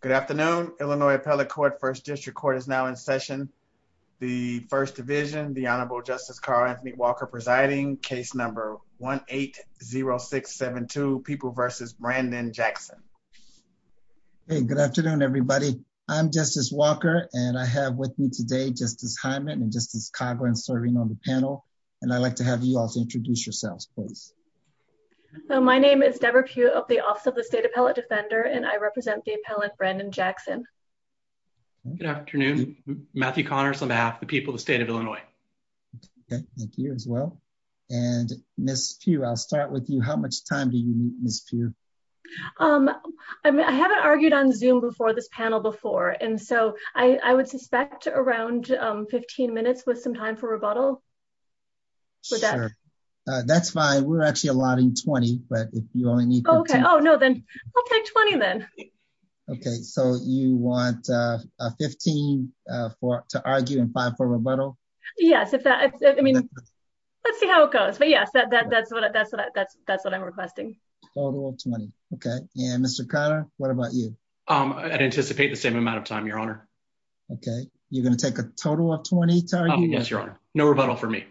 Good afternoon, Illinois Appellate Court, 1st District Court is now in session. The 1st Division, the Honorable Justice Carl Anthony Walker presiding, case number 1-8-0672, People v. Brandon-Jackson. Hey, good afternoon, everybody. I'm Justice Walker, and I have with me today Justice Hyman and Justice Cochran serving on the panel, and I'd like to have you all to introduce yourselves, please. My name is Debra Pugh of the Office of the State Appellate Defender, and I represent the appellant, Brandon-Jackson. Good afternoon, Matthew Connors, on behalf of the people of the state of Illinois. Thank you, as well. And Ms. Pugh, I'll start with you. How much time do you need, Ms. Pugh? I haven't argued on Zoom before this panel before, and so I would suspect around 15 minutes with some time for rebuttal. Sure. That's fine. We're actually allotting 20, but if you only need 15. Oh, okay. Oh, no, then I'll take 20, then. Okay, so you want 15 to argue and 5 for rebuttal? Yes. I mean, let's see how it goes. But yes, that's what I'm requesting. Total of 20. Okay. And Mr. Connor, what about you? Okay. You're going to take a total of 20 to argue? Yes, Your Honor. No rebuttal for me.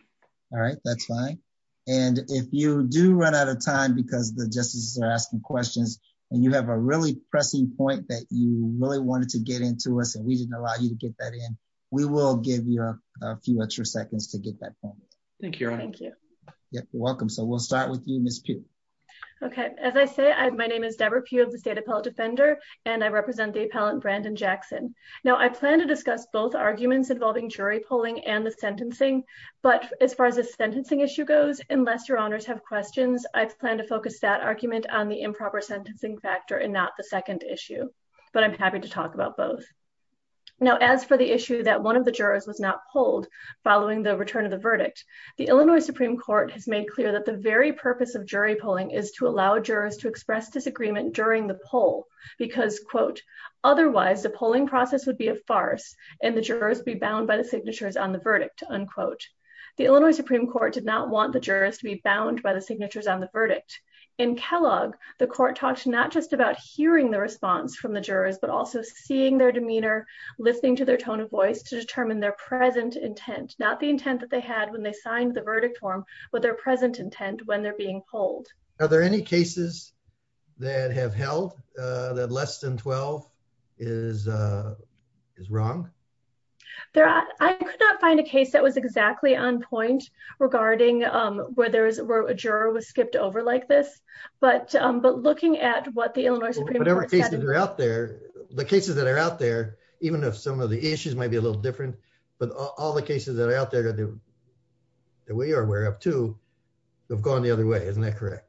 All right, that's fine. And if you do run out of time because the justices are asking questions and you have a really pressing point that you really wanted to get into us and we didn't allow you to get that in, we will give you a few extra seconds to get that point. Thank you, Your Honor. Thank you. You're welcome. So we'll start with you, Ms. Pugh. Okay. As I say, my name is Deborah Pugh of the State Appellate Defender, and I represent the appellant Brandon Jackson. Now, I plan to discuss both arguments involving jury polling and the sentencing, but as far as the sentencing issue goes, unless Your Honors have questions, I plan to focus that argument on the improper sentencing factor and not the second issue. But I'm happy to talk about both. Now, as for the issue that one of the jurors was not pulled following the return of the verdict, the Illinois Supreme Court has made clear that the very purpose of jury polling is to allow jurors to express disagreement during the poll because, quote, otherwise the polling process would be a farce and the jurors be bound by the signatures on the verdict, unquote. The Illinois Supreme Court did not want the jurors to be bound by the signatures on the verdict. In Kellogg, the court talks not just about hearing the response from the jurors, but also seeing their demeanor, listening to their tone of voice to determine their present intent, not the intent that they had when they signed the verdict form, but their present intent when they're being polled. Are there any cases that have held that less than 12 is wrong? I could not find a case that was exactly on point regarding where a juror was skipped over like this. But looking at what the Illinois Supreme Court said... Well, whatever cases are out there, the cases that are out there, even if some of the issues might be a little different, but all the cases that are out there that we are aware of, too, have gone the other way, isn't that correct?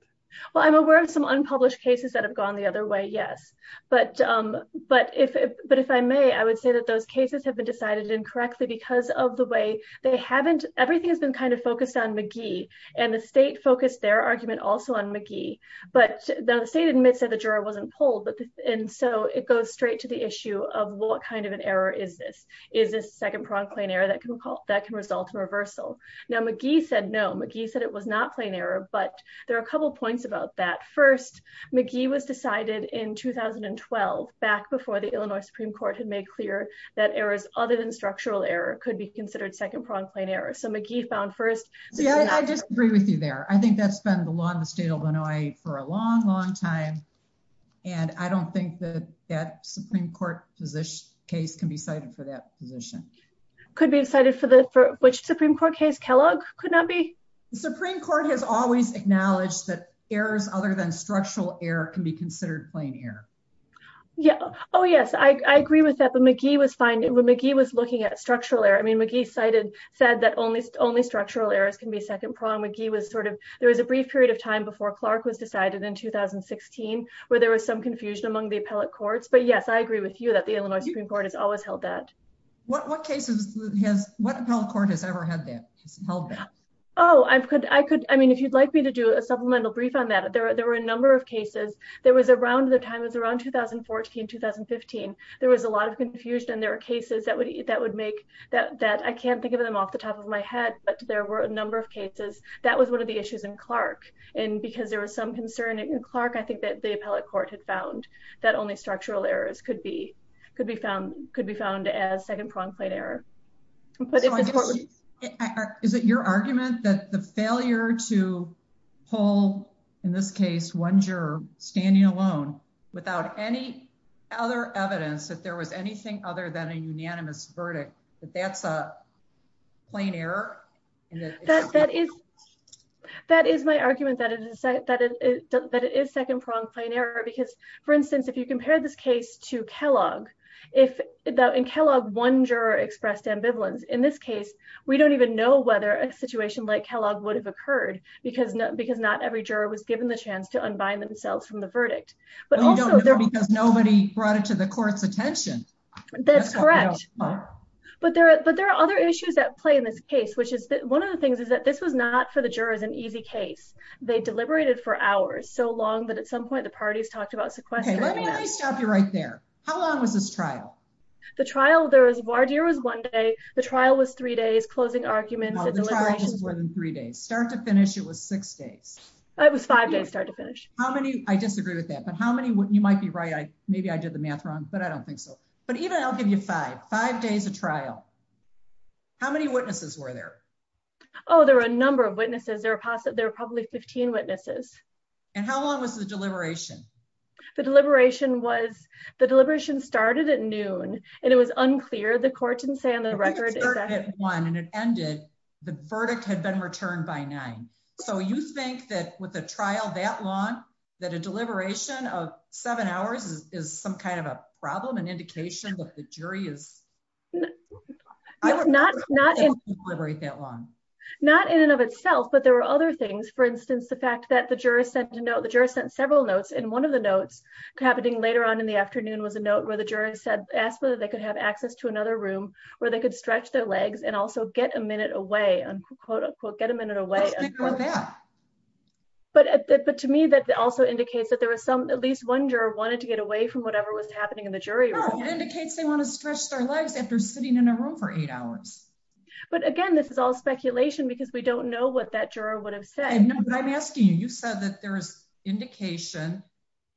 Well, I'm aware of some unpublished cases that have gone the other way, yes. But if I may, I would say that those cases have been decided incorrectly because of the way they haven't... Everything has been kind of focused on McGee, and the state focused their argument also on McGee. But the state admits that the juror wasn't polled, and so it goes straight to the issue of what kind of an error is this? Is this a second pronged claim error that can result in reversal? Now, McGee said no. McGee said it was not plain error, but there are a couple of points about that. First, McGee was decided in 2012, back before the Illinois Supreme Court had made clear that errors other than structural error could be considered second pronged plain error. So McGee found first... Yeah, I just agree with you there. I think that's been the law in the state of Illinois for a long, long time, and I don't think that that Supreme Court case can be cited for that position. Could be cited for which Supreme Court case? Kellogg could not be? The Supreme Court has always acknowledged that errors other than structural error can be considered plain error. Yeah. Oh, yes. I agree with that, but McGee was looking at structural error. I mean, McGee said that only structural errors can be second pronged. McGee was sort of... There was a brief period of time before Clark was decided in 2016 where there was some confusion among the appellate courts. But yes, I agree with you that the Illinois Supreme Court has always held that. What cases has... What appellate court has ever held that? Oh, I could... I mean, if you'd like me to do a supplemental brief on that, there were a number of cases. There was around... The time was around 2014, 2015. There was a lot of confusion. There were cases that would make that... I can't think of them off the top of my head, but there were a number of cases. That was one of the issues in Clark. And because there was some concern in Clark, I think that the appellate court had found that only structural errors could be found as second pronged plain error. Is it your argument that the failure to pull, in this case, one juror standing alone without any other evidence that there was anything other than a unanimous verdict, that that's a plain error? That is my argument that it is second pronged plain error. Because, for instance, if you compare this case to Kellogg. In Kellogg, one juror expressed ambivalence. In this case, we don't even know whether a situation like Kellogg would have occurred because not every juror was given the chance to unbind themselves from the verdict. Well, you don't know because nobody brought it to the court's attention. That's correct. But there are other issues at play in this case, which is... One of the things is that this was not, for the jurors, an easy case. They deliberated for hours, so long that at some point the parties talked about sequestering them. Okay, let me at least stop you right there. How long was this trial? The trial, there was, Vardir was one day. The trial was three days, closing arguments and deliberations. No, the trial was more than three days. Start to finish, it was six days. It was five days, start to finish. How many, I disagree with that, but how many, you might be right, maybe I did the math wrong, but I don't think so. But even, I'll give you five. Five days of trial. How many witnesses were there? Oh, there were a number of witnesses. There were probably 15 witnesses. And how long was the deliberation? The deliberation was, the deliberation started at noon, and it was unclear. The court didn't say on the record exactly... It started at one and it ended. The verdict had been returned by nine. So you think that with a trial that long, that a deliberation of seven hours is some kind of a problem, an indication that the jury is... No, not in... ...deliberate that long? Not in and of itself, but there were other things. For instance, the fact that the jury sent several notes, and one of the notes happening later on in the afternoon was a note where the jury asked whether they could have access to another room where they could stretch their legs and also get a minute away, unquote, unquote, get a minute away. I disagree with that. But to me, that also indicates that there was some, at least one juror wanted to get away from whatever was happening in the jury room. No, it indicates they want to stretch their legs after sitting in a room for eight hours. But again, this is all speculation because we don't know what that juror would have said. No, but I'm asking you. You said that there is indication,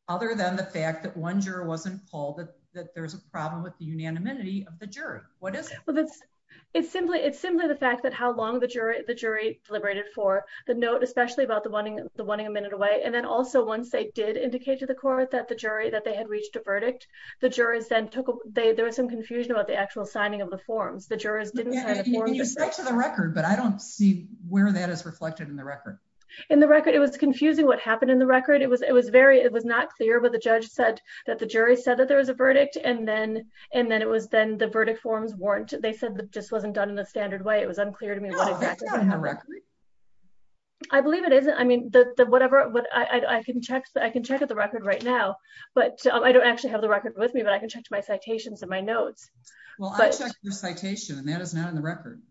other than the fact that one juror wasn't called, that there's a problem with the unanimity of the jury. What is it? Well, it's simply the fact that how long the jury deliberated for the note, especially about the wanting a minute away, and then also once they did indicate to the court that the jury, that they had reached a verdict, the jurors then took... There was some confusion about the actual signing of the forms. The jurors didn't sign the forms. Yeah, and you said to the record, but I don't see where that is reflected in the record. In the record, it was confusing what happened in the record. It was very, it was not clear what the judge said, that the jury said that there was a verdict, and then it was then the verdict forms weren't, they said it just wasn't done in a standard way. It was unclear to me what exactly happened. No, it's not in the record. I believe it is. I mean, the whatever, I can check the record right now, but I don't actually have the record with me, but I can check my citations and my notes. Well, I checked your citation, and that is not in the record.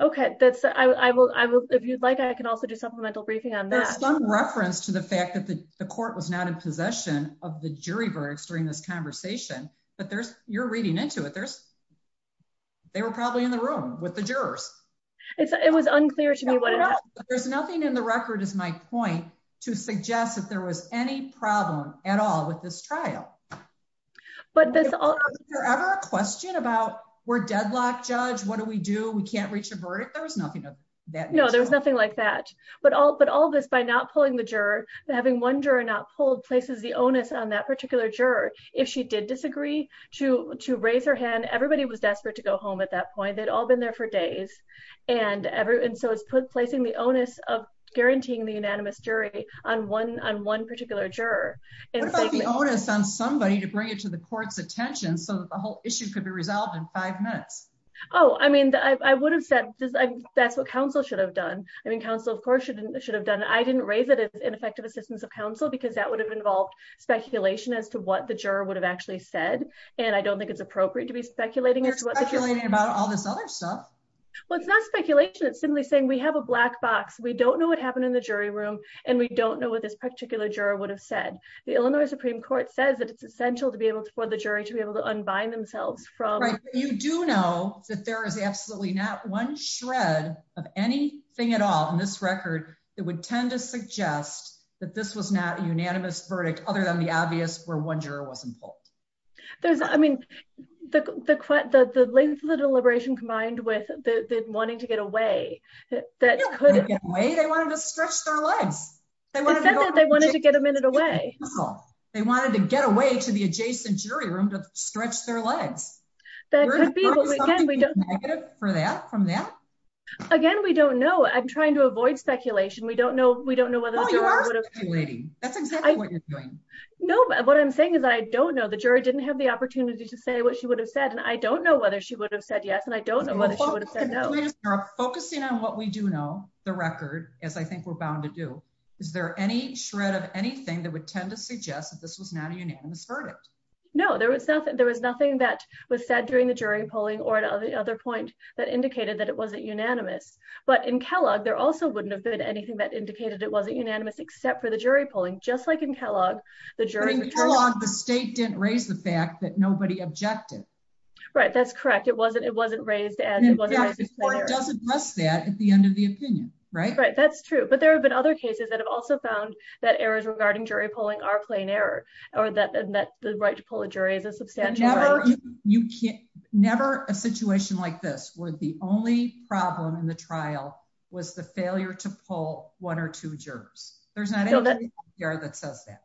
Okay, that's, I will, if you'd like, I can also do supplemental briefing on that. There's some reference to the fact that the court was not in possession of the jury verdicts during this conversation, but there's, you're reading into it, there's, they were probably in the room with the jurors. It was unclear to me what it was. There's nothing in the record, is my point, to suggest that there was any problem at all with this trial. Is there ever a question about, we're deadlocked, judge, what do we do, we can't reach a verdict? There was nothing of that nature. No, there was nothing like that. But all of this, by not pulling the juror, having one juror not pulled places the onus on that particular juror. If she did disagree to raise her hand, everybody was desperate to go home at that point. They'd all been there for days, and so it's placing the onus of guaranteeing the unanimous jury on one particular juror. What about the onus on somebody to bring it to the court's attention so that the whole issue could be resolved in five minutes? Oh, I mean, I would have said that's what counsel should have done. I mean, counsel, of course, should have done it. I didn't raise it as ineffective assistance of counsel because that would have involved speculation as to what the juror would have actually said. And I don't think it's appropriate to be speculating. You're speculating about all this other stuff. Well, it's not speculation. It's simply saying we have a black box. We don't know what happened in the jury room, and we don't know what this particular juror would have said. The Illinois Supreme Court says that it's essential for the jury to be able to unbind themselves from. Right. You do know that there is absolutely not one shred of anything at all in this record that would tend to suggest that this was not a unanimous verdict, other than the obvious where one juror wasn't pulled. I mean, the length of the deliberation combined with the wanting to get away. They wanted to stretch their legs. They wanted to get a minute away. They wanted to get away to the adjacent jury room to stretch their legs. That could be, but again, we don't know. Again, we don't know. I'm trying to avoid speculation. We don't know. We don't know whether the juror would have. That's exactly what you're doing. No. What I'm saying is I don't know the jury didn't have the opportunity to say what she would have said and I don't know whether she would have said yes and I don't know. Focusing on what we do know the record, as I think we're bound to do. Is there any shred of anything that would tend to suggest that this was not a unanimous verdict. No, there was nothing there was nothing that was said during the jury polling or the other point that indicated that it wasn't unanimous, but in Kellogg there also wouldn't have been anything that indicated it wasn't unanimous except for the jury polling, just like in Kellogg, the jury. The state didn't raise the fact that nobody objected. Right, that's correct. It wasn't it wasn't raised and it wasn't. It doesn't address that at the end of the opinion, right, right, that's true but there have been other cases that have also found that errors regarding jury polling are plain error, or that that the right to pull a jury is a substantial. You can never a situation like this with the only problem in the trial was the failure to pull one or two jurors, there's not that says that.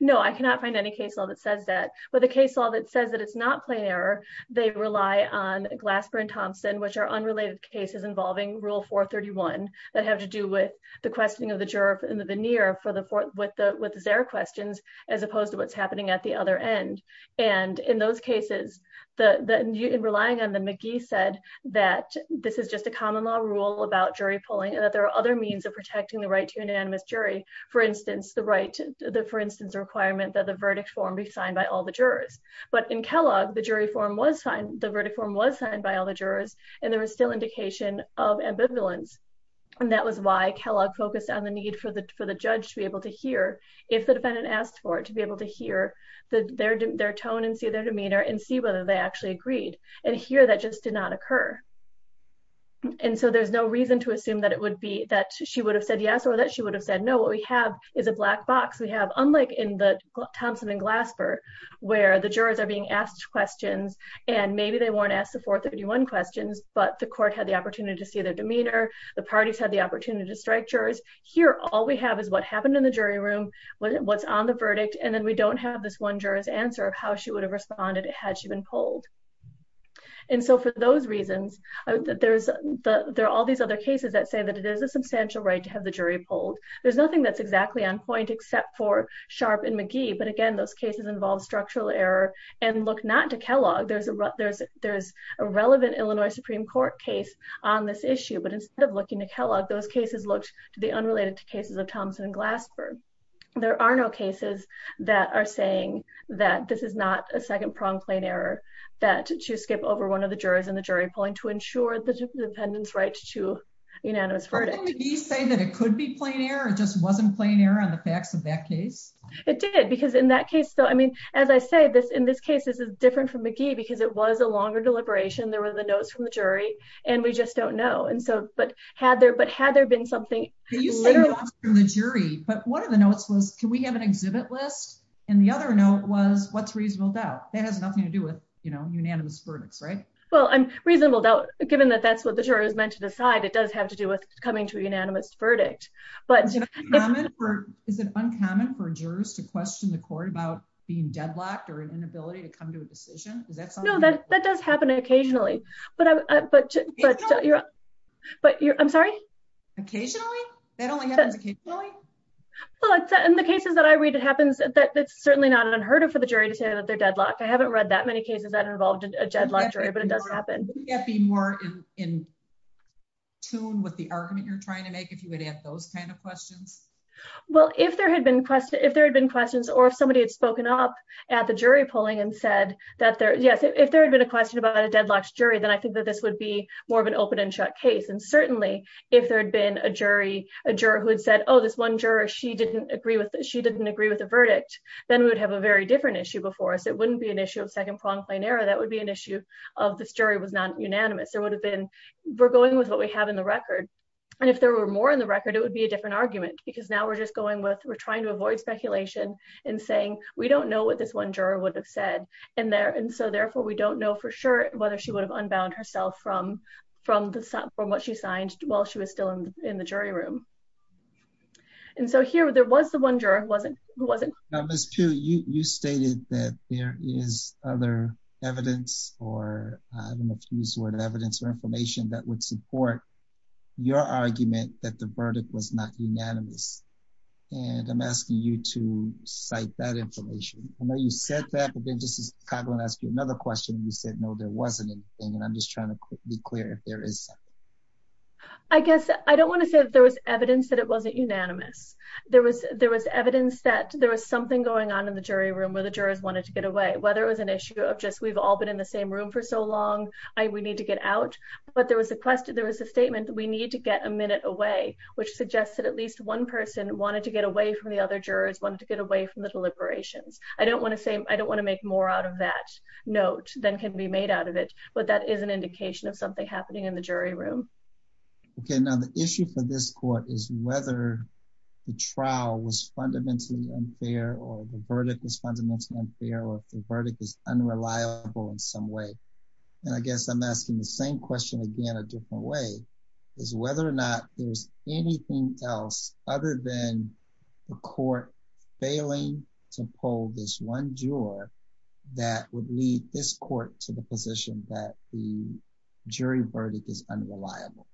No, I cannot find any case all that says that, but the case all that says that it's not plain error, they rely on glassburn Thompson which are unrelated cases involving rule for 31 that have to do with the questioning of the jerk in the veneer for the fourth with the with their questions, as opposed to what's happening at the other end. And in those cases, the relying on the McGee said that this is just a common law rule about jury polling and that there are other means of protecting the right to unanimous jury, for instance, the right to the for instance requirement that the verdict form be signed by all the jurors, but in Kellogg the jury form was signed the verdict form was signed by all the jurors, and there was still indication of ambivalence. And that was why Kellogg focus on the need for the for the judge to be able to hear if the defendant asked for it to be able to hear their, their tone and see their demeanor and see whether they actually agreed, and here that just did not occur. And so there's no reason to assume that it would be that she would have said yes or that she would have said no what we have is a black box we have, unlike in the Thompson and glass for where the jurors are being asked questions, and maybe they weren't asked the fourth of the one questions, but the court had the opportunity to see their demeanor, the parties had the opportunity to strike jurors here all we have is what happened in the jury room. What's on the verdict and then we don't have this one jurors answer of how she would have responded had she been pulled. And so for those reasons, there's the there are all these other cases that say that it is a substantial right to have the jury pulled. There's nothing that's exactly on point except for sharp and McGee but again those cases involve structural error and look not to Kellogg there's a there's, there's a relevant Illinois Supreme Court case on this issue but instead of looking to Kellogg those cases looked to the unrelated to cases of Thompson and glass for. There are no cases that are saying that this is not a second prong plane error that to skip over one of the jurors in the jury point to ensure the dependence right to unanimous verdict. You say that it could be playing here it just wasn't playing here on the facts of that case, it did because in that case though I mean, as I say this in this case this is different from McGee because it was a longer deliberation there was a notes from the jury, and we just don't know and so but had there but had there been something from the jury, but one of the notes was can we have an exhibit list. And the other note was what's reasonable doubt that has nothing to do with, you know, unanimous verdicts right. Well, I'm reasonable doubt, given that that's what the jurors meant to decide it does have to do with coming to a unanimous verdict, but is it uncommon for jurors to question the court about being deadlocked or an inability to come to a decision that's no that that does happen occasionally. But, but, but you're, but you're, I'm sorry. Occasionally, that only happens occasionally. Well it's in the cases that I read it happens that it's certainly not an unheard of for the jury to say that they're deadlocked I haven't read that many cases that are involved in a deadlocked jury but it does happen, be more in tune with the argument you're trying to make if you would have those kind of questions. Well, if there had been question if there had been questions or if somebody had spoken up at the jury polling and said that there. Yes, if there had been a question about a deadlocked jury then I think that this would be more of an open and shut case and certainly if there had been a jury, a juror who had said oh this one juror she didn't agree with that she didn't agree with the verdict, then we would have a very different issue before us it wouldn't be an issue of second prong plane error that would be an issue of this jury was not unanimous there would have been. We're going with what we have in the record. And if there were more in the record, it would be a different argument, because now we're just going with we're trying to avoid speculation and saying, we don't know what this one juror would have said, and there and so therefore we don't know for sure whether she would have unbound herself from from the from what she signed, while she was still in the jury room. And so here there was the one juror wasn't wasn't. You stated that there is other evidence or use word evidence or information that would support your argument that the verdict was not unanimous. And I'm asking you to cite that information. I know you said that, but then just as I'm going to ask you another question you said no there wasn't anything and I'm just trying to be clear if there is. I guess I don't want to say that there was evidence that it wasn't unanimous, there was there was evidence that there was something going on in the jury room where the jurors wanted to get away whether it was an issue of just we've all been in the same room for so long, I would need to get out, but there was a question there was a statement, we need to get a minute away, which suggests that at least one person wanted to get away from the other jurors wanted to get away from the deliberations, I don't Okay, now the issue for this court is whether the trial was fundamentally unfair or the verdict was fundamentally unfair or the verdict is unreliable in some way. And I guess I'm asking the same question again a different way is whether or not there's anything else, other than the court, failing to pull this one juror, that would lead this court to the position that the jury verdict is unreliable.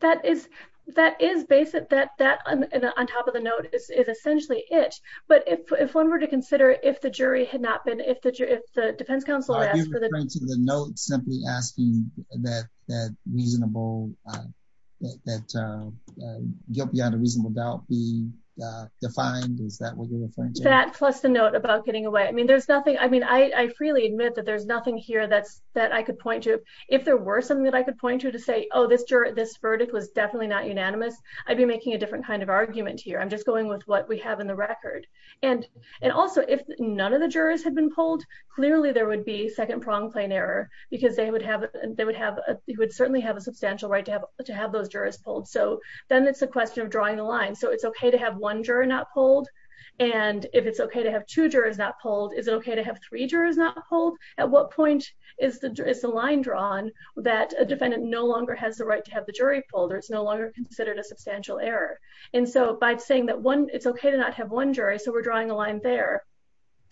That is, that is basic that that on top of the note is essentially it, but if one were to consider if the jury had not been if the jury if the defense counsel. To the note simply asking that that reasonable that guilt beyond a reasonable doubt be defined is that what you're referring to That plus the note about getting away. I mean, there's nothing. I mean, I freely admit that there's nothing here that's that I could point to If there were something that I could point to to say, oh, this juror this verdict was definitely not unanimous. I'd be making a different kind of argument here. I'm just going with what we have in the record. And, and also if none of the jurors had been pulled clearly there would be second prong plane error because they would have they would have It would certainly have a substantial right to have to have those jurors pulled. So then it's a question of drawing the line. So it's okay to have one juror not pulled And if it's okay to have two jurors not pulled. Is it okay to have three jurors not hold at what point is the line drawn that a defendant no longer has the right to have the jury pulled or it's no longer considered a substantial error. And so by saying that one, it's okay to not have one jury. So we're drawing a line there.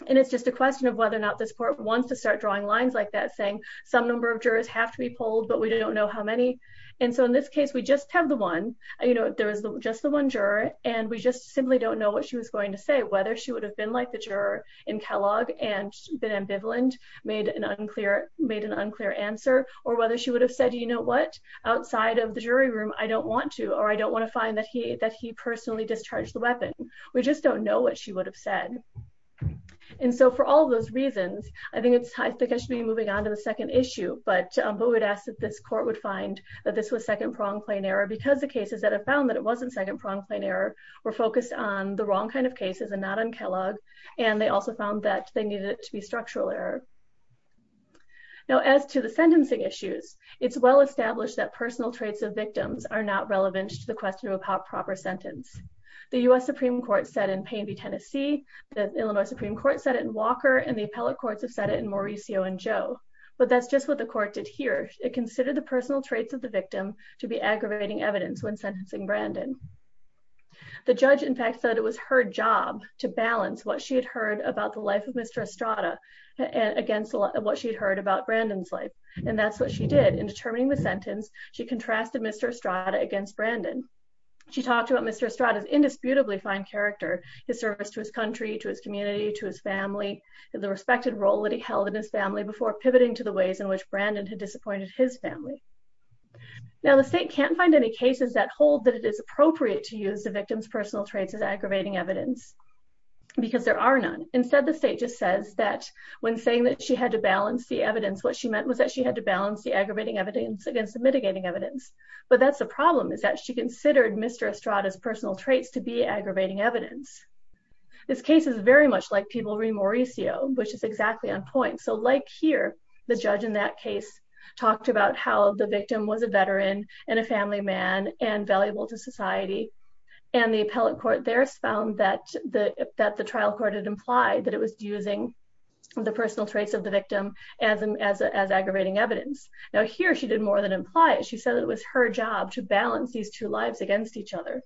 And it's just a question of whether or not this court wants to start drawing lines like that saying some number of jurors have to be pulled, but we don't know how many And so in this case, we just have the one, you know, there was just the one juror and we just simply don't know what she was going to say whether she would have been like the juror in Kellogg and been ambivalent made an unclear made an unclear answer or whether she would have said, you know what, outside of the jury room. I don't want to or I don't want to find that he that he personally discharged the weapon. We just don't know what she would have said. And so for all those reasons, I think it's I think I should be moving on to the second issue, but we would ask that this court would find that this was second pronged plain error because the cases that have found that it wasn't second pronged plain error were focused on the wrong kind of cases and not on Kellogg, and they also found that they needed it to be structural error. Now as to the sentencing issues, it's well established that personal traits of victims are not relevant to the question of how proper sentence. The US Supreme Court said in Payne v Tennessee, the Illinois Supreme Court said it in Walker and the appellate courts have said it in Mauricio and Joe, but that's just what the court did here. It considered the personal traits of the victim to be aggravating evidence when sentencing Brandon. The judge in fact said it was her job to balance what she had heard about the life of Mr. Estrada against what she'd heard about Brandon's life. And that's what she did in determining the sentence, she contrasted Mr. Estrada against Brandon. She talked about Mr. Estrada's indisputably fine character, his service to his country, to his community, to his family, the respected role that he held in his family before pivoting to the ways in which Brandon had disappointed his family. Now the state can't find any cases that hold that it is appropriate to use the victim's personal traits as aggravating evidence. Because there are none. Instead, the state just says that when saying that she had to balance the evidence, what she meant was that she had to balance the aggravating evidence against the mitigating evidence. But that's the problem is that she considered Mr. Estrada's personal traits to be aggravating evidence. This case is very much like Peabody-Mauricio, which is exactly on point. So like here, the judge in that case talked about how the victim was a veteran and a family man and valuable to society. And the appellate court there found that the trial court had implied that it was using the personal traits of the victim as aggravating evidence. Now here she did more than imply it, she said it was her job to balance these two lives against each other.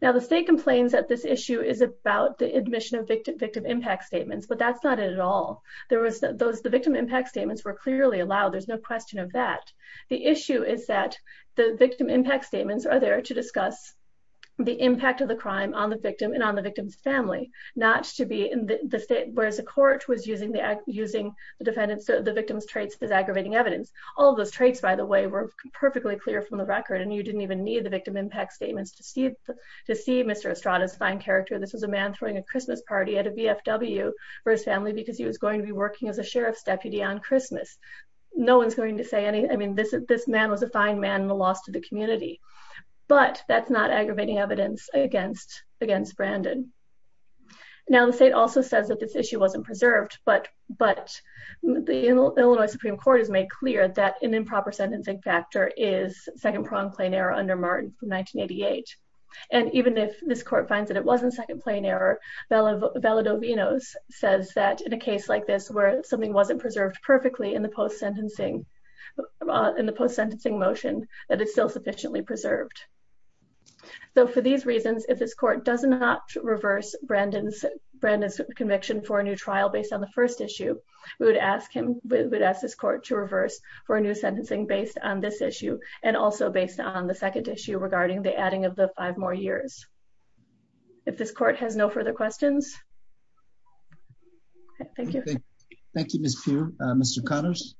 Now the state complains that this issue is about the admission of victim impact statements, but that's not it at all. The victim impact statements were clearly allowed. There's no question of that. The issue is that the victim impact statements are there to discuss the impact of the crime on the victim and on the victim's family, not to be in the state, whereas the court was using the defendant's, the victim's traits as aggravating evidence. All of those traits, by the way, were perfectly clear from the record and you didn't even need the victim impact statements to see Mr. Estrada's fine character. This was a man throwing a Christmas party at a VFW for his family because he was going to be working as a sheriff's deputy on Christmas. No one's going to say anything. I mean, this man was a fine man and a loss to the community, but that's not aggravating evidence against Brandon. Now the state also says that this issue wasn't preserved, but the Illinois Supreme Court has made clear that an improper sentencing factor is second-pronged plain error under Martin from 1988. And even if this court finds that it wasn't second-pronged plain error, Valedovinos says that in a case like this where something wasn't preserved perfectly in the post-sentencing motion, that it's still sufficiently preserved. So for these reasons, if this court does not reverse Brandon's, Brandon's conviction for a new trial based on the first issue, we would ask him, we would ask this court to reverse for a new sentencing based on this issue and also based on the second issue regarding the adding of the five more years. If this court has no further questions. Thank you. Thank you, Ms. Pugh. Mr. Connors.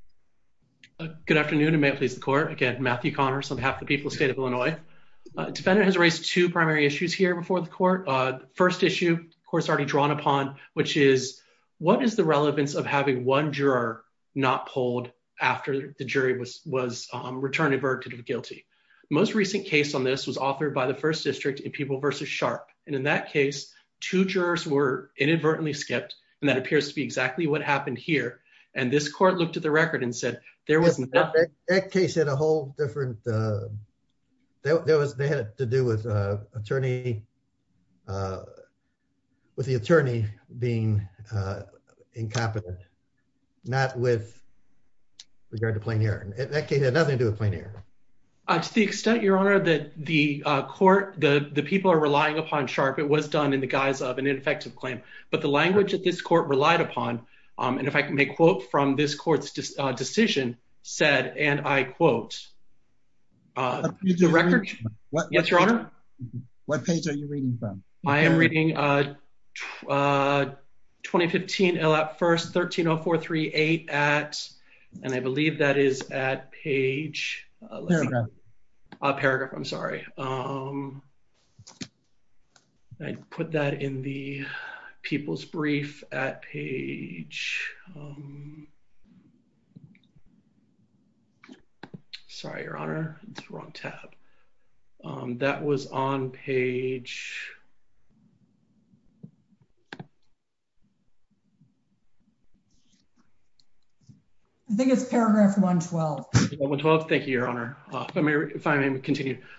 Good afternoon, and may it please the court. Again, Matthew Connors on behalf of the people of the state of Illinois. Defendant has raised two primary issues here before the court. First issue, of course, already drawn upon, which is what is the relevance of having one juror not pulled after the jury was returned a verdict of guilty? Most recent case on this was authored by the first district in people versus sharp. And in that case, two jurors were inadvertently skipped. And that appears to be exactly what happened here. And this court looked at the record and said, there wasn't that case had a whole different. There was they had to do with attorney. With the attorney being incompetent. Not with regard to plain air. Nothing to do with plain air. To the extent, Your Honor, that the court, the people are relying upon sharp. It was done in the guise of an ineffective claim. But the language that this court relied upon. And if I can make a quote from this court's decision said, and I quote. Yes, Your Honor. What page are you reading from? I am reading. 2015 at first 130438 at, and I believe that is at page. A paragraph. I'm sorry. I put that in the people's brief at page. Sorry, Your Honor, wrong tab. That was on page. I think it's paragraph 112. The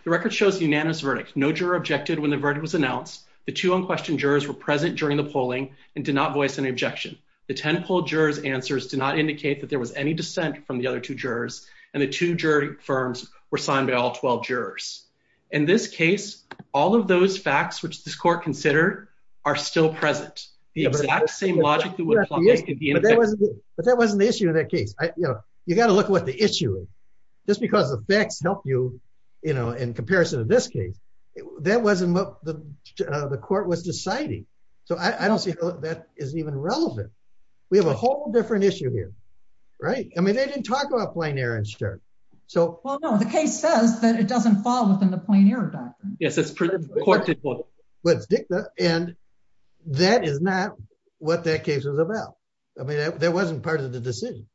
record shows unanimous verdict. No juror objected when the verdict was announced. The two unquestioned jurors were present during the polling and did not voice an objection. The 10 poll jurors answers do not indicate that there was any dissent from the other two jurors, and the two jury firms were signed by all 12 jurors. In this case, all of those facts which this court consider are still present. The exact same logic. But that wasn't the issue in that case, you know, you got to look at what the issue is just because the facts help you, you know, in comparison to this case, that wasn't what the court was deciding. So I don't see that is even relevant. We have a whole different issue here. Right. I mean, they didn't talk about playing Aaron shirt. So, well, no, the case says that it doesn't fall within the point here. Yes, it's pretty quick. Let's dig that. And that is not what that case was about. I mean, that wasn't part of the decision.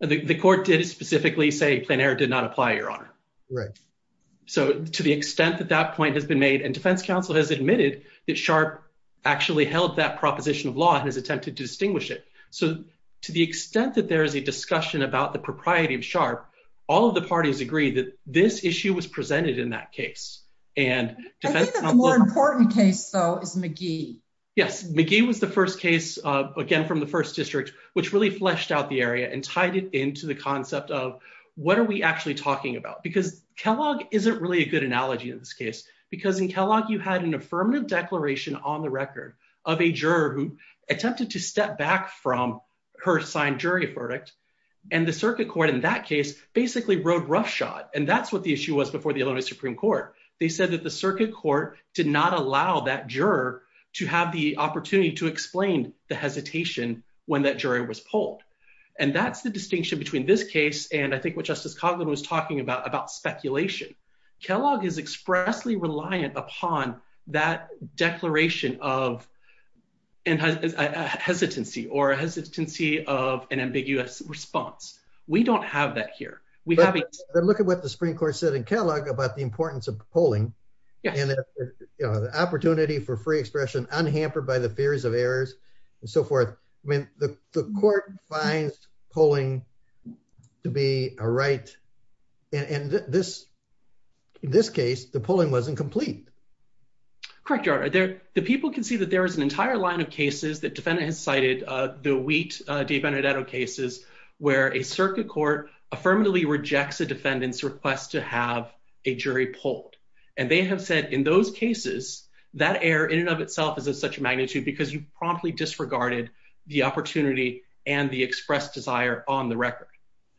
The court did specifically say plenary did not apply your honor. Right. So, to the extent that that point has been made and defense counsel has admitted that sharp actually held that proposition of law has attempted to distinguish it. So, to the extent that there is a discussion about the propriety of sharp. All of the parties agree that this issue was presented in that case, and more important case though is McGee. Yes, McGee was the first case, again from the first district, which really fleshed out the area and tied it into the concept of what are we actually talking about because Kellogg isn't really a good analogy in this case, because in Kellogg you had an affirmative declaration on the record of a juror who attempted to step back from her assigned jury verdict. And the circuit court in that case, basically road roughshod and that's what the issue was before the Illinois Supreme Court, they said that the circuit court did not allow that juror to have the opportunity to explain the hesitation, when that jury was pulled. And that's the distinction between this case, and I think what Justice Cogman was talking about about speculation, Kellogg is expressly reliant upon that declaration of and hesitancy or hesitancy of an ambiguous response. We don't have that here. We have a look at what the Supreme Court said and Kellogg about the importance of polling. And the opportunity for free expression unhampered by the fears of errors, and so forth. I mean, the court finds polling to be a right. And this, this case, the polling wasn't complete. Correct, Your Honor, the people can see that there is an entire line of cases that defendant has cited the Wheat v. Benedetto cases, where a circuit court affirmatively rejects a defendant's request to have a jury polled. And they have said in those cases, that error in and of itself is of such magnitude because you promptly disregarded the opportunity and the expressed desire on the record.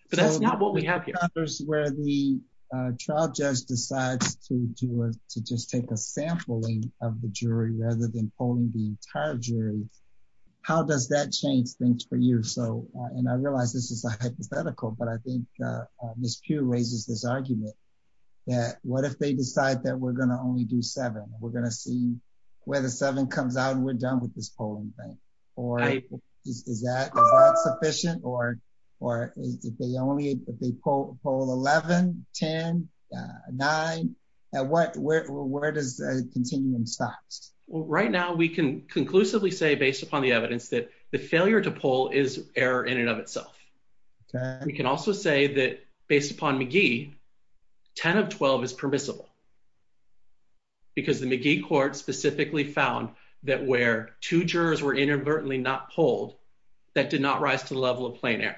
But that's not what we have here. Where the trial judge decides to just take a sampling of the jury rather than polling the entire jury. How does that change things for you? So, and I realize this is a hypothetical, but I think Ms. Pugh raises this argument that what if they decide that we're going to only do seven, we're going to see where the seven comes out and we're done with this polling thing. Is that sufficient or, or if they only, if they poll 11, 10, 9, where does the continuum stop? Right now we can conclusively say based upon the evidence that the failure to poll is error in and of itself. We can also say that based upon McGee, 10 of 12 is permissible. Because the McGee court specifically found that where two jurors were inadvertently not polled, that did not rise to the level of plain error.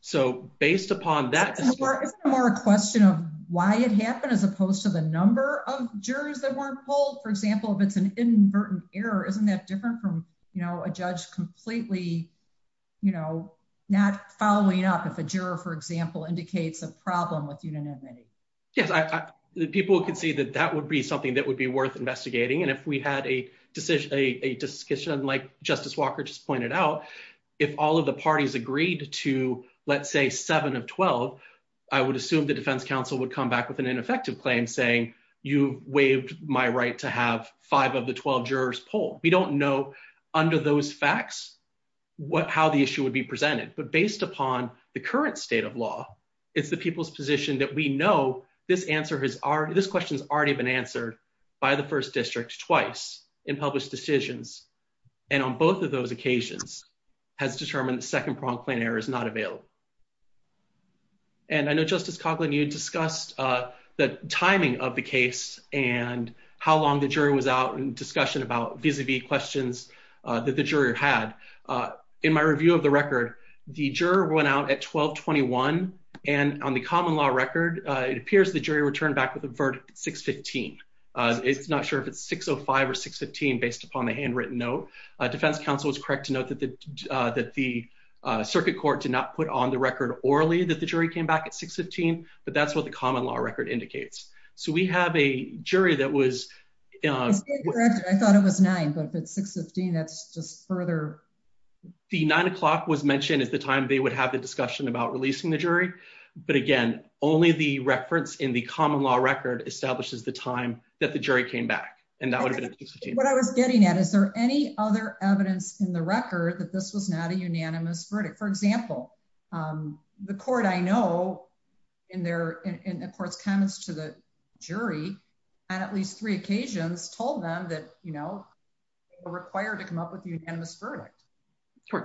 So, based upon that... Isn't it more a question of why it happened as opposed to the number of jurors that weren't polled? For example, if it's an inadvertent error, isn't that different from, you know, a judge completely, you know, not following up if a juror, for example, indicates a problem with unanimity? Yes, people can see that that would be something that would be worth investigating. And if we had a decision, a discussion like Justice Walker just pointed out, if all of the parties agreed to, let's say, seven of 12, I would assume the defense counsel would come back with an ineffective claim saying you waived my right to have five of the 12 jurors poll. We don't know under those facts how the issue would be presented. But based upon the current state of law, it's the people's position that we know this question has already been answered by the first district twice in published decisions. And on both of those occasions has determined the second-pronged plain error is not available. And I know, Justice Coughlin, you discussed the timing of the case and how long the jury was out in discussion about vis-a-vis questions that the juror had. In my review of the record, the juror went out at 1221, and on the common law record, it appears the jury returned back with a verdict at 615. It's not sure if it's 605 or 615 based upon the handwritten note. Defense counsel was correct to note that the circuit court did not put on the record orally that the jury came back at 615, but that's what the common law record indicates. So we have a jury that was... I thought it was nine, but if it's 615, that's just further... The nine o'clock was mentioned as the time they would have the discussion about releasing the jury. But again, only the reference in the common law record establishes the time that the jury came back, and that would have been at 615. What I was getting at, is there any other evidence in the record that this was not a unanimous verdict? For example, the court I know, in a court's comments to the jury, on at least three occasions, told them that they were required to come up with a unanimous verdict.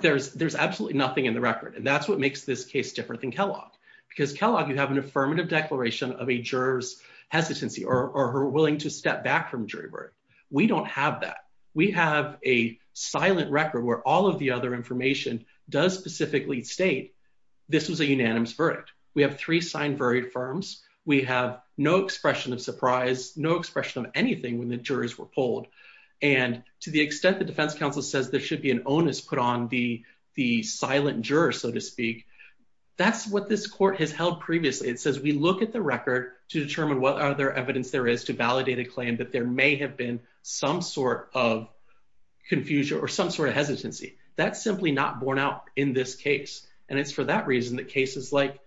There's absolutely nothing in the record, and that's what makes this case different than Kellogg. Because Kellogg, you have an affirmative declaration of a juror's hesitancy or her willing to step back from jury work. We don't have that. We have a silent record where all of the other information does specifically state this was a unanimous verdict. We have three sign-varied firms. We have no expression of surprise, no expression of anything when the jurors were polled. And to the extent the defense counsel says there should be an onus put on the silent juror, so to speak, that's what this court has held previously. It says we look at the record to determine what other evidence there is to validate a claim that there may have been some sort of confusion or some sort of hesitancy. That's simply not borne out in this case. And it's for that reason that cases like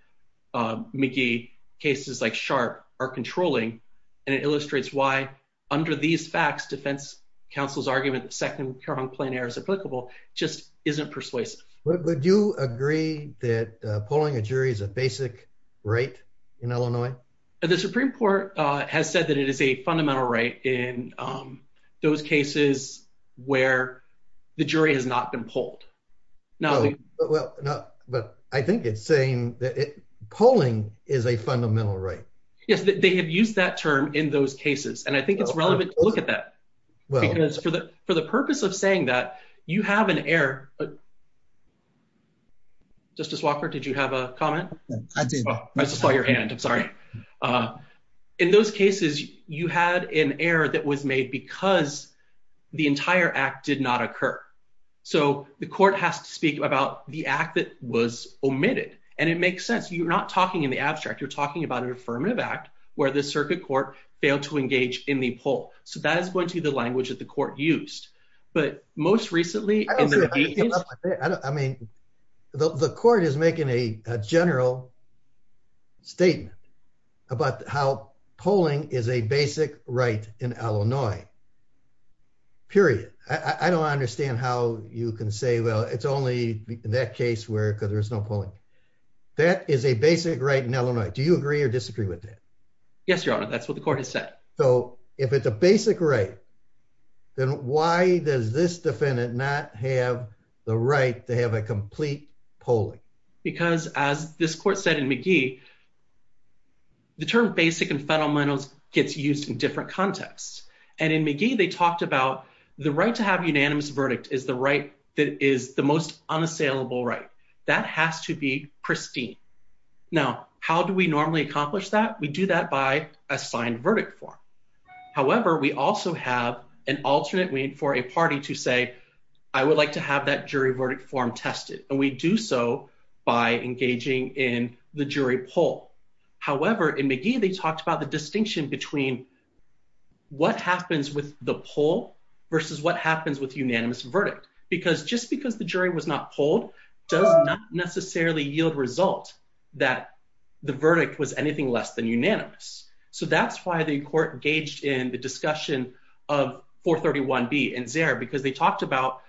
McGee, cases like Sharp, are controlling. And it illustrates why, under these facts, defense counsel's argument that second-round plein air is applicable just isn't persuasive. Would you agree that polling a jury is a basic right in Illinois? The Supreme Court has said that it is a fundamental right in those cases where the jury has not been polled. But I think it's saying polling is a fundamental right. Yes, they have used that term in those cases. And I think it's relevant to look at that. Because for the purpose of saying that, you have an error. Justice Walker, did you have a comment? I did. I just saw your hand. I'm sorry. In those cases, you had an error that was made because the entire act did not occur. So the court has to speak about the act that was omitted. And it makes sense. You're not talking in the abstract. You're talking about an affirmative act where the circuit court failed to engage in the poll. So that is going to be the language that the court used. But most recently, in the case — I mean, the court is making a general statement about how polling is a basic right in Illinois. Period. I don't understand how you can say, well, it's only in that case because there's no polling. That is a basic right in Illinois. Do you agree or disagree with that? Yes, Your Honor. That's what the court has said. So if it's a basic right, then why does this defendant not have the right to have a complete polling? Because as this court said in McGee, the term basic and fundamentals gets used in different contexts. And in McGee, they talked about the right to have unanimous verdict is the right that is the most unassailable right. That has to be pristine. Now, how do we normally accomplish that? We do that by a signed verdict form. However, we also have an alternate way for a party to say, I would like to have that jury verdict form tested. And we do so by engaging in the jury poll. However, in McGee, they talked about the distinction between what happens with the poll versus what happens with unanimous verdict. Because just because the jury was not polled does not necessarily yield result that the verdict was anything less than unanimous. So that's why the court engaged in the discussion of 431B and Zare because they talked about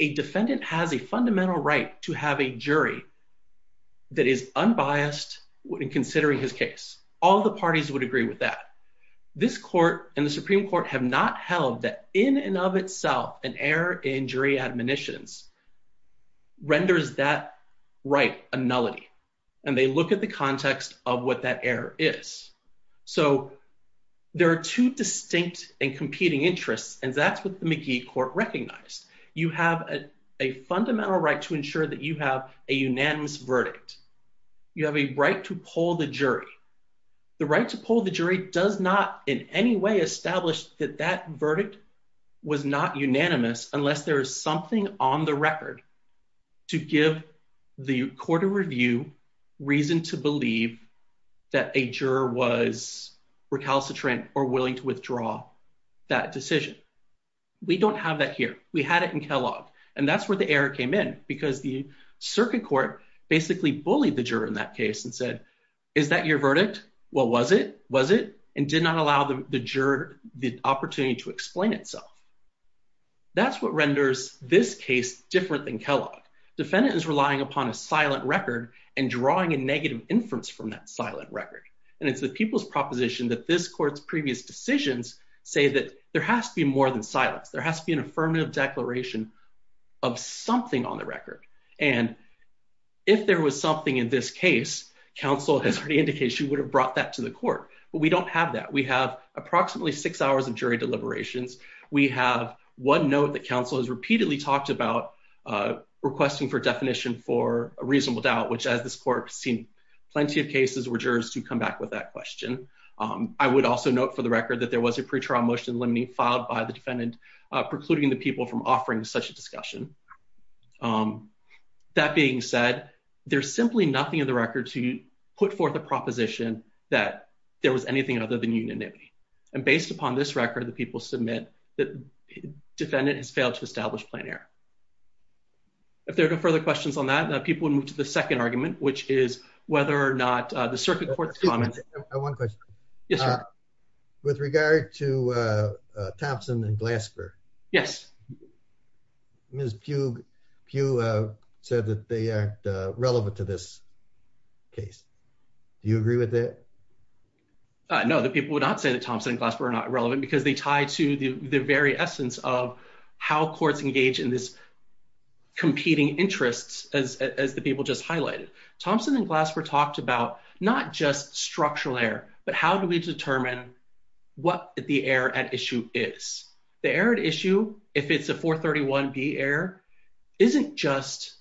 a defendant has a fundamental right to have a jury that is unbiased in considering his case. All the parties would agree with that. This court and the Supreme Court have not held that in and of itself, an error in jury admonitions renders that right a nullity. And they look at the context of what that error is. So there are two distinct and competing interests, and that's what the McGee court recognized. You have a fundamental right to ensure that you have a unanimous verdict. You have a right to poll the jury. The right to poll the jury does not in any way establish that that verdict was not unanimous unless there is something on the record to give the court of review reason to believe that a juror was recalcitrant or willing to withdraw that decision. We don't have that here. We had it in Kellogg. And that's where the error came in, because the circuit court basically bullied the juror in that case and said, is that your verdict? What was it? Was it? And did not allow the juror the opportunity to explain itself. That's what renders this case different than Kellogg. Defendant is relying upon a silent record and drawing a negative inference from that silent record. And it's the people's proposition that this court's previous decisions say that there has to be more than silence. There has to be an affirmative declaration of something on the record. And if there was something in this case, counsel has already indication would have brought that to the court. But we don't have that. We have approximately six hours of jury deliberations. We have one note that counsel has repeatedly talked about requesting for definition for a reasonable doubt, which has this court seen plenty of cases where jurors to come back with that question. I would also note for the record that there was a pretrial motion limiting filed by the defendant, precluding the people from offering such a discussion. That being said, there's simply nothing in the record to put forth a proposition that there was anything other than unanimity. And based upon this record, the people submit that defendant has failed to establish plan here. If there are no further questions on that, that people would move to the second argument, which is whether or not the circuit court comments. Yes. With regard to Thompson and Glasper. Yes. Miss Pugh Pugh said that they are relevant to this case. Do you agree with that. No, the people would not say that Thompson and Glasper are not relevant because they tie to the very essence of how courts engage in this competing interests, as the people just highlighted Thompson and Glasper talked about not just structural air, but how do we determine what the air at issue is the air at issue. If it's a 431 be air isn't just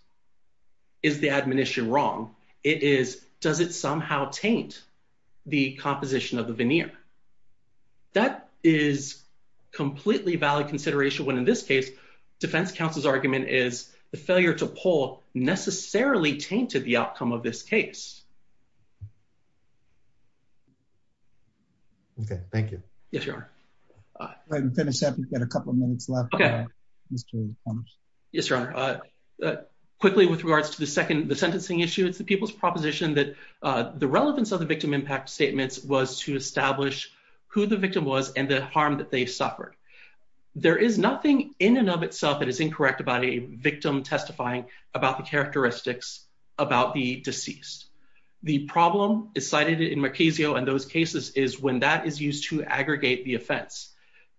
is the admonition wrong. It is, does it somehow taint the composition of the veneer. That is completely valid consideration when in this case, defense counsel's argument is the failure to pull necessarily tainted the outcome of this case. Okay, thank you. Yes, your finish up and get a couple minutes left. Yes, Your Honor. Quickly with regards to the second the sentencing issue it's the people's proposition that the relevance of the victim impact statements was to establish who the victim was and the harm that they suffered. There is nothing in and of itself that is incorrect about a victim testifying about the characteristics about the deceased. The problem is cited in Murkazio and those cases is when that is used to aggregate the offense.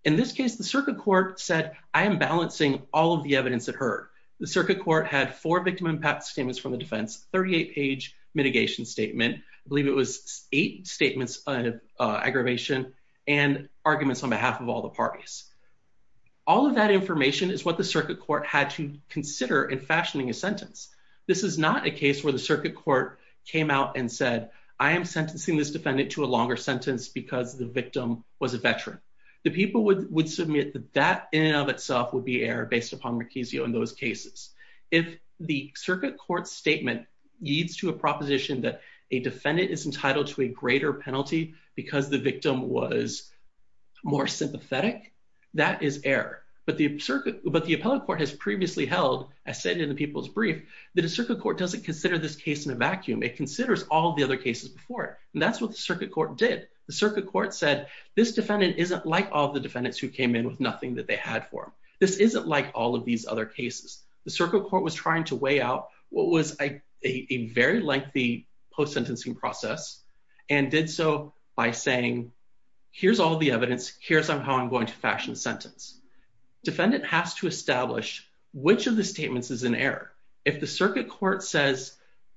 In this case, the circuit court said, I am balancing all of the evidence that hurt the circuit court had for victim impact statements from the defense 38 page mitigation statement, believe it was eight statements of aggravation and arguments on behalf of all the parties. All of that information is what the circuit court had to consider in fashioning a sentence. This is not a case where the circuit court came out and said, I am sentencing this defendant to a longer sentence because the victim was a veteran. The people would would submit that that in and of itself would be error based upon Murkazio in those cases. If the circuit court statement leads to a proposition that a defendant is entitled to a greater penalty, because the victim was more sympathetic. That is error, but the circuit, but the appellate court has previously held I said in the people's brief that a circuit court doesn't consider this case in a vacuum it considers all the other cases before it. And that's what the circuit court did the circuit court said this defendant isn't like all the defendants who came in with nothing that they had for this isn't like all of these other cases, the circuit court was trying to weigh out what was a very lengthy post sentencing process. And did so by saying, here's all the evidence. Here's how I'm going to fashion sentence defendant has to establish which of the statements is an error. If the circuit court says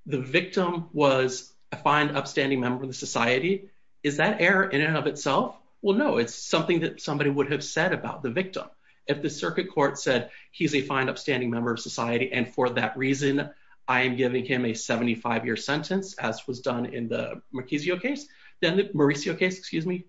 The victim was a fine upstanding member of society. Is that error in and of itself. Well, no, it's something that somebody would have said about the victim. If the circuit court said he's a fine upstanding member of society. And for that reason, I am giving him a 75 year sentence as was done in the Murkazio case, then the Murkazio case, excuse me.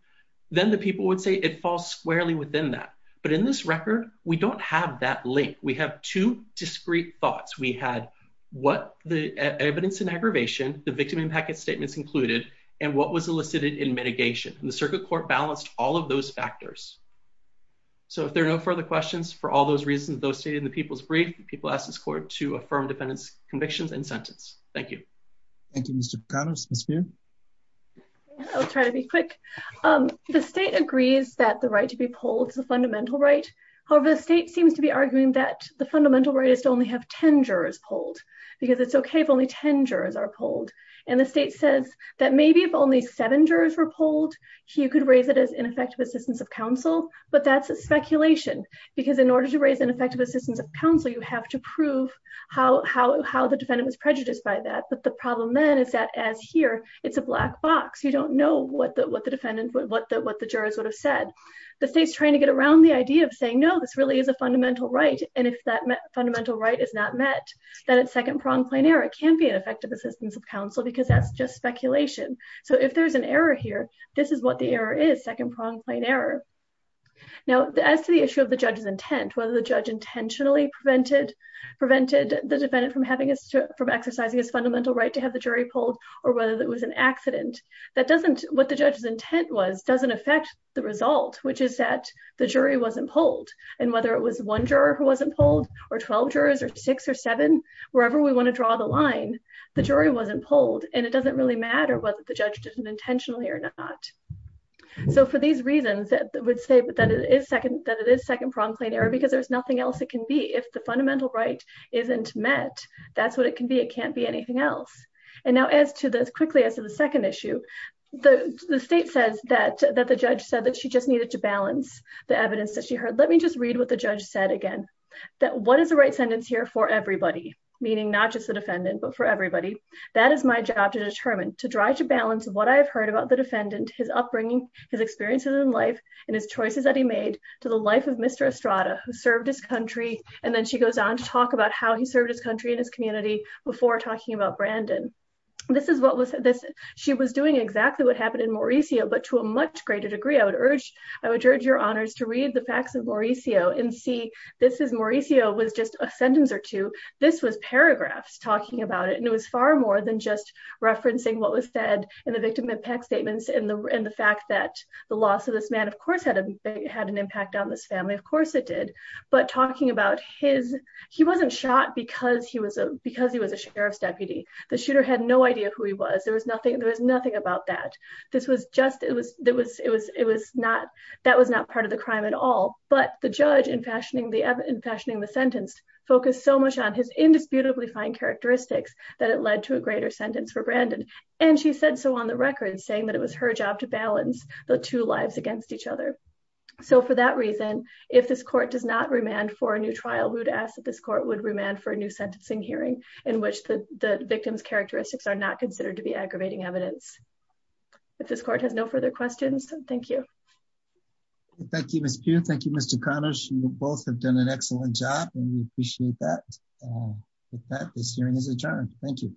Then the people would say it falls squarely within that. But in this record, we don't have that link. We have two discrete thoughts we had what the evidence and aggravation, the victim impact statements included and what was elicited in mitigation and the circuit court balanced all of those factors. So if there are no further questions, for all those reasons, those stated in the people's brief people ask this court to affirm defendants convictions and sentence. Thank you. Thank you, Mr. Connors. I'll try to be quick. The state agrees that the right to be pulled the fundamental right. However, the state seems to be arguing that the fundamental right is to only have 10 jurors pulled because it's okay if only 10 jurors are pulled. And the state says that maybe if only seven jurors were pulled, he could raise it as ineffective assistance of counsel, but that's a speculation. Because in order to raise an effective assistance of counsel, you have to prove how the defendant was prejudiced by that. But the problem then is that as here, it's a black box. You don't know what the jurors would have said. The state's trying to get around the idea of saying no, this really is a fundamental right. And if that fundamental right is not met, then it's second pronged plain error. It can be an effective assistance of counsel because that's just speculation. So if there's an error here, this is what the error is second pronged plain error. Now, as to the issue of the judge's intent, whether the judge intentionally prevented the defendant from exercising his fundamental right to have the jury pulled, or whether that was an accident, what the judge's intent was doesn't affect the result, which is that the jury wasn't pulled. And whether it was one juror who wasn't pulled, or 12 jurors, or six or seven, wherever we want to draw the line, the jury wasn't pulled. And it doesn't really matter whether the judge did it intentionally or not. So for these reasons, I would say that it is second pronged plain error because there's nothing else it can be. If the fundamental right isn't met, that's what it can be. It can't be anything else. And now as to this quickly as to the second issue, the state says that the judge said that she just needed to balance the evidence that she heard. Let me just read what the judge said again. That what is the right sentence here for everybody, meaning not just the defendant, but for everybody. That is my job to determine, to try to balance what I've heard about the defendant, his upbringing, his experiences in life, and his choices that he made to the life of Mr. Estrada, who served his country. And then she goes on to talk about how he served his country and his community before talking about Brandon. She was doing exactly what happened in Mauricio, but to a much greater degree, I would urge your honors to read the facts of Mauricio and see this is Mauricio was just a sentence or two. This was paragraphs talking about it, and it was far more than just referencing what was said in the victim impact statements and the fact that the loss of this man, of course, had an impact on this family. Of course, it did, but talking about his, he wasn't shot because he was a sheriff's deputy. The shooter had no idea who he was. There was nothing about that. That was not part of the crime at all, but the judge in fashioning the sentence focused so much on his indisputably fine characteristics that it led to a greater sentence for Brandon. And she said so on the record saying that it was her job to balance the two lives against each other. So for that reason, if this court does not remand for a new trial, we would ask that this court would remand for a new sentencing hearing in which the victim's characteristics are not considered to be aggravating evidence. If this court has no further questions, thank you. Thank you, Ms. Pugh. Thank you, Mr. Connish. You both have done an excellent job and we appreciate that. With that, this hearing is adjourned. Thank you.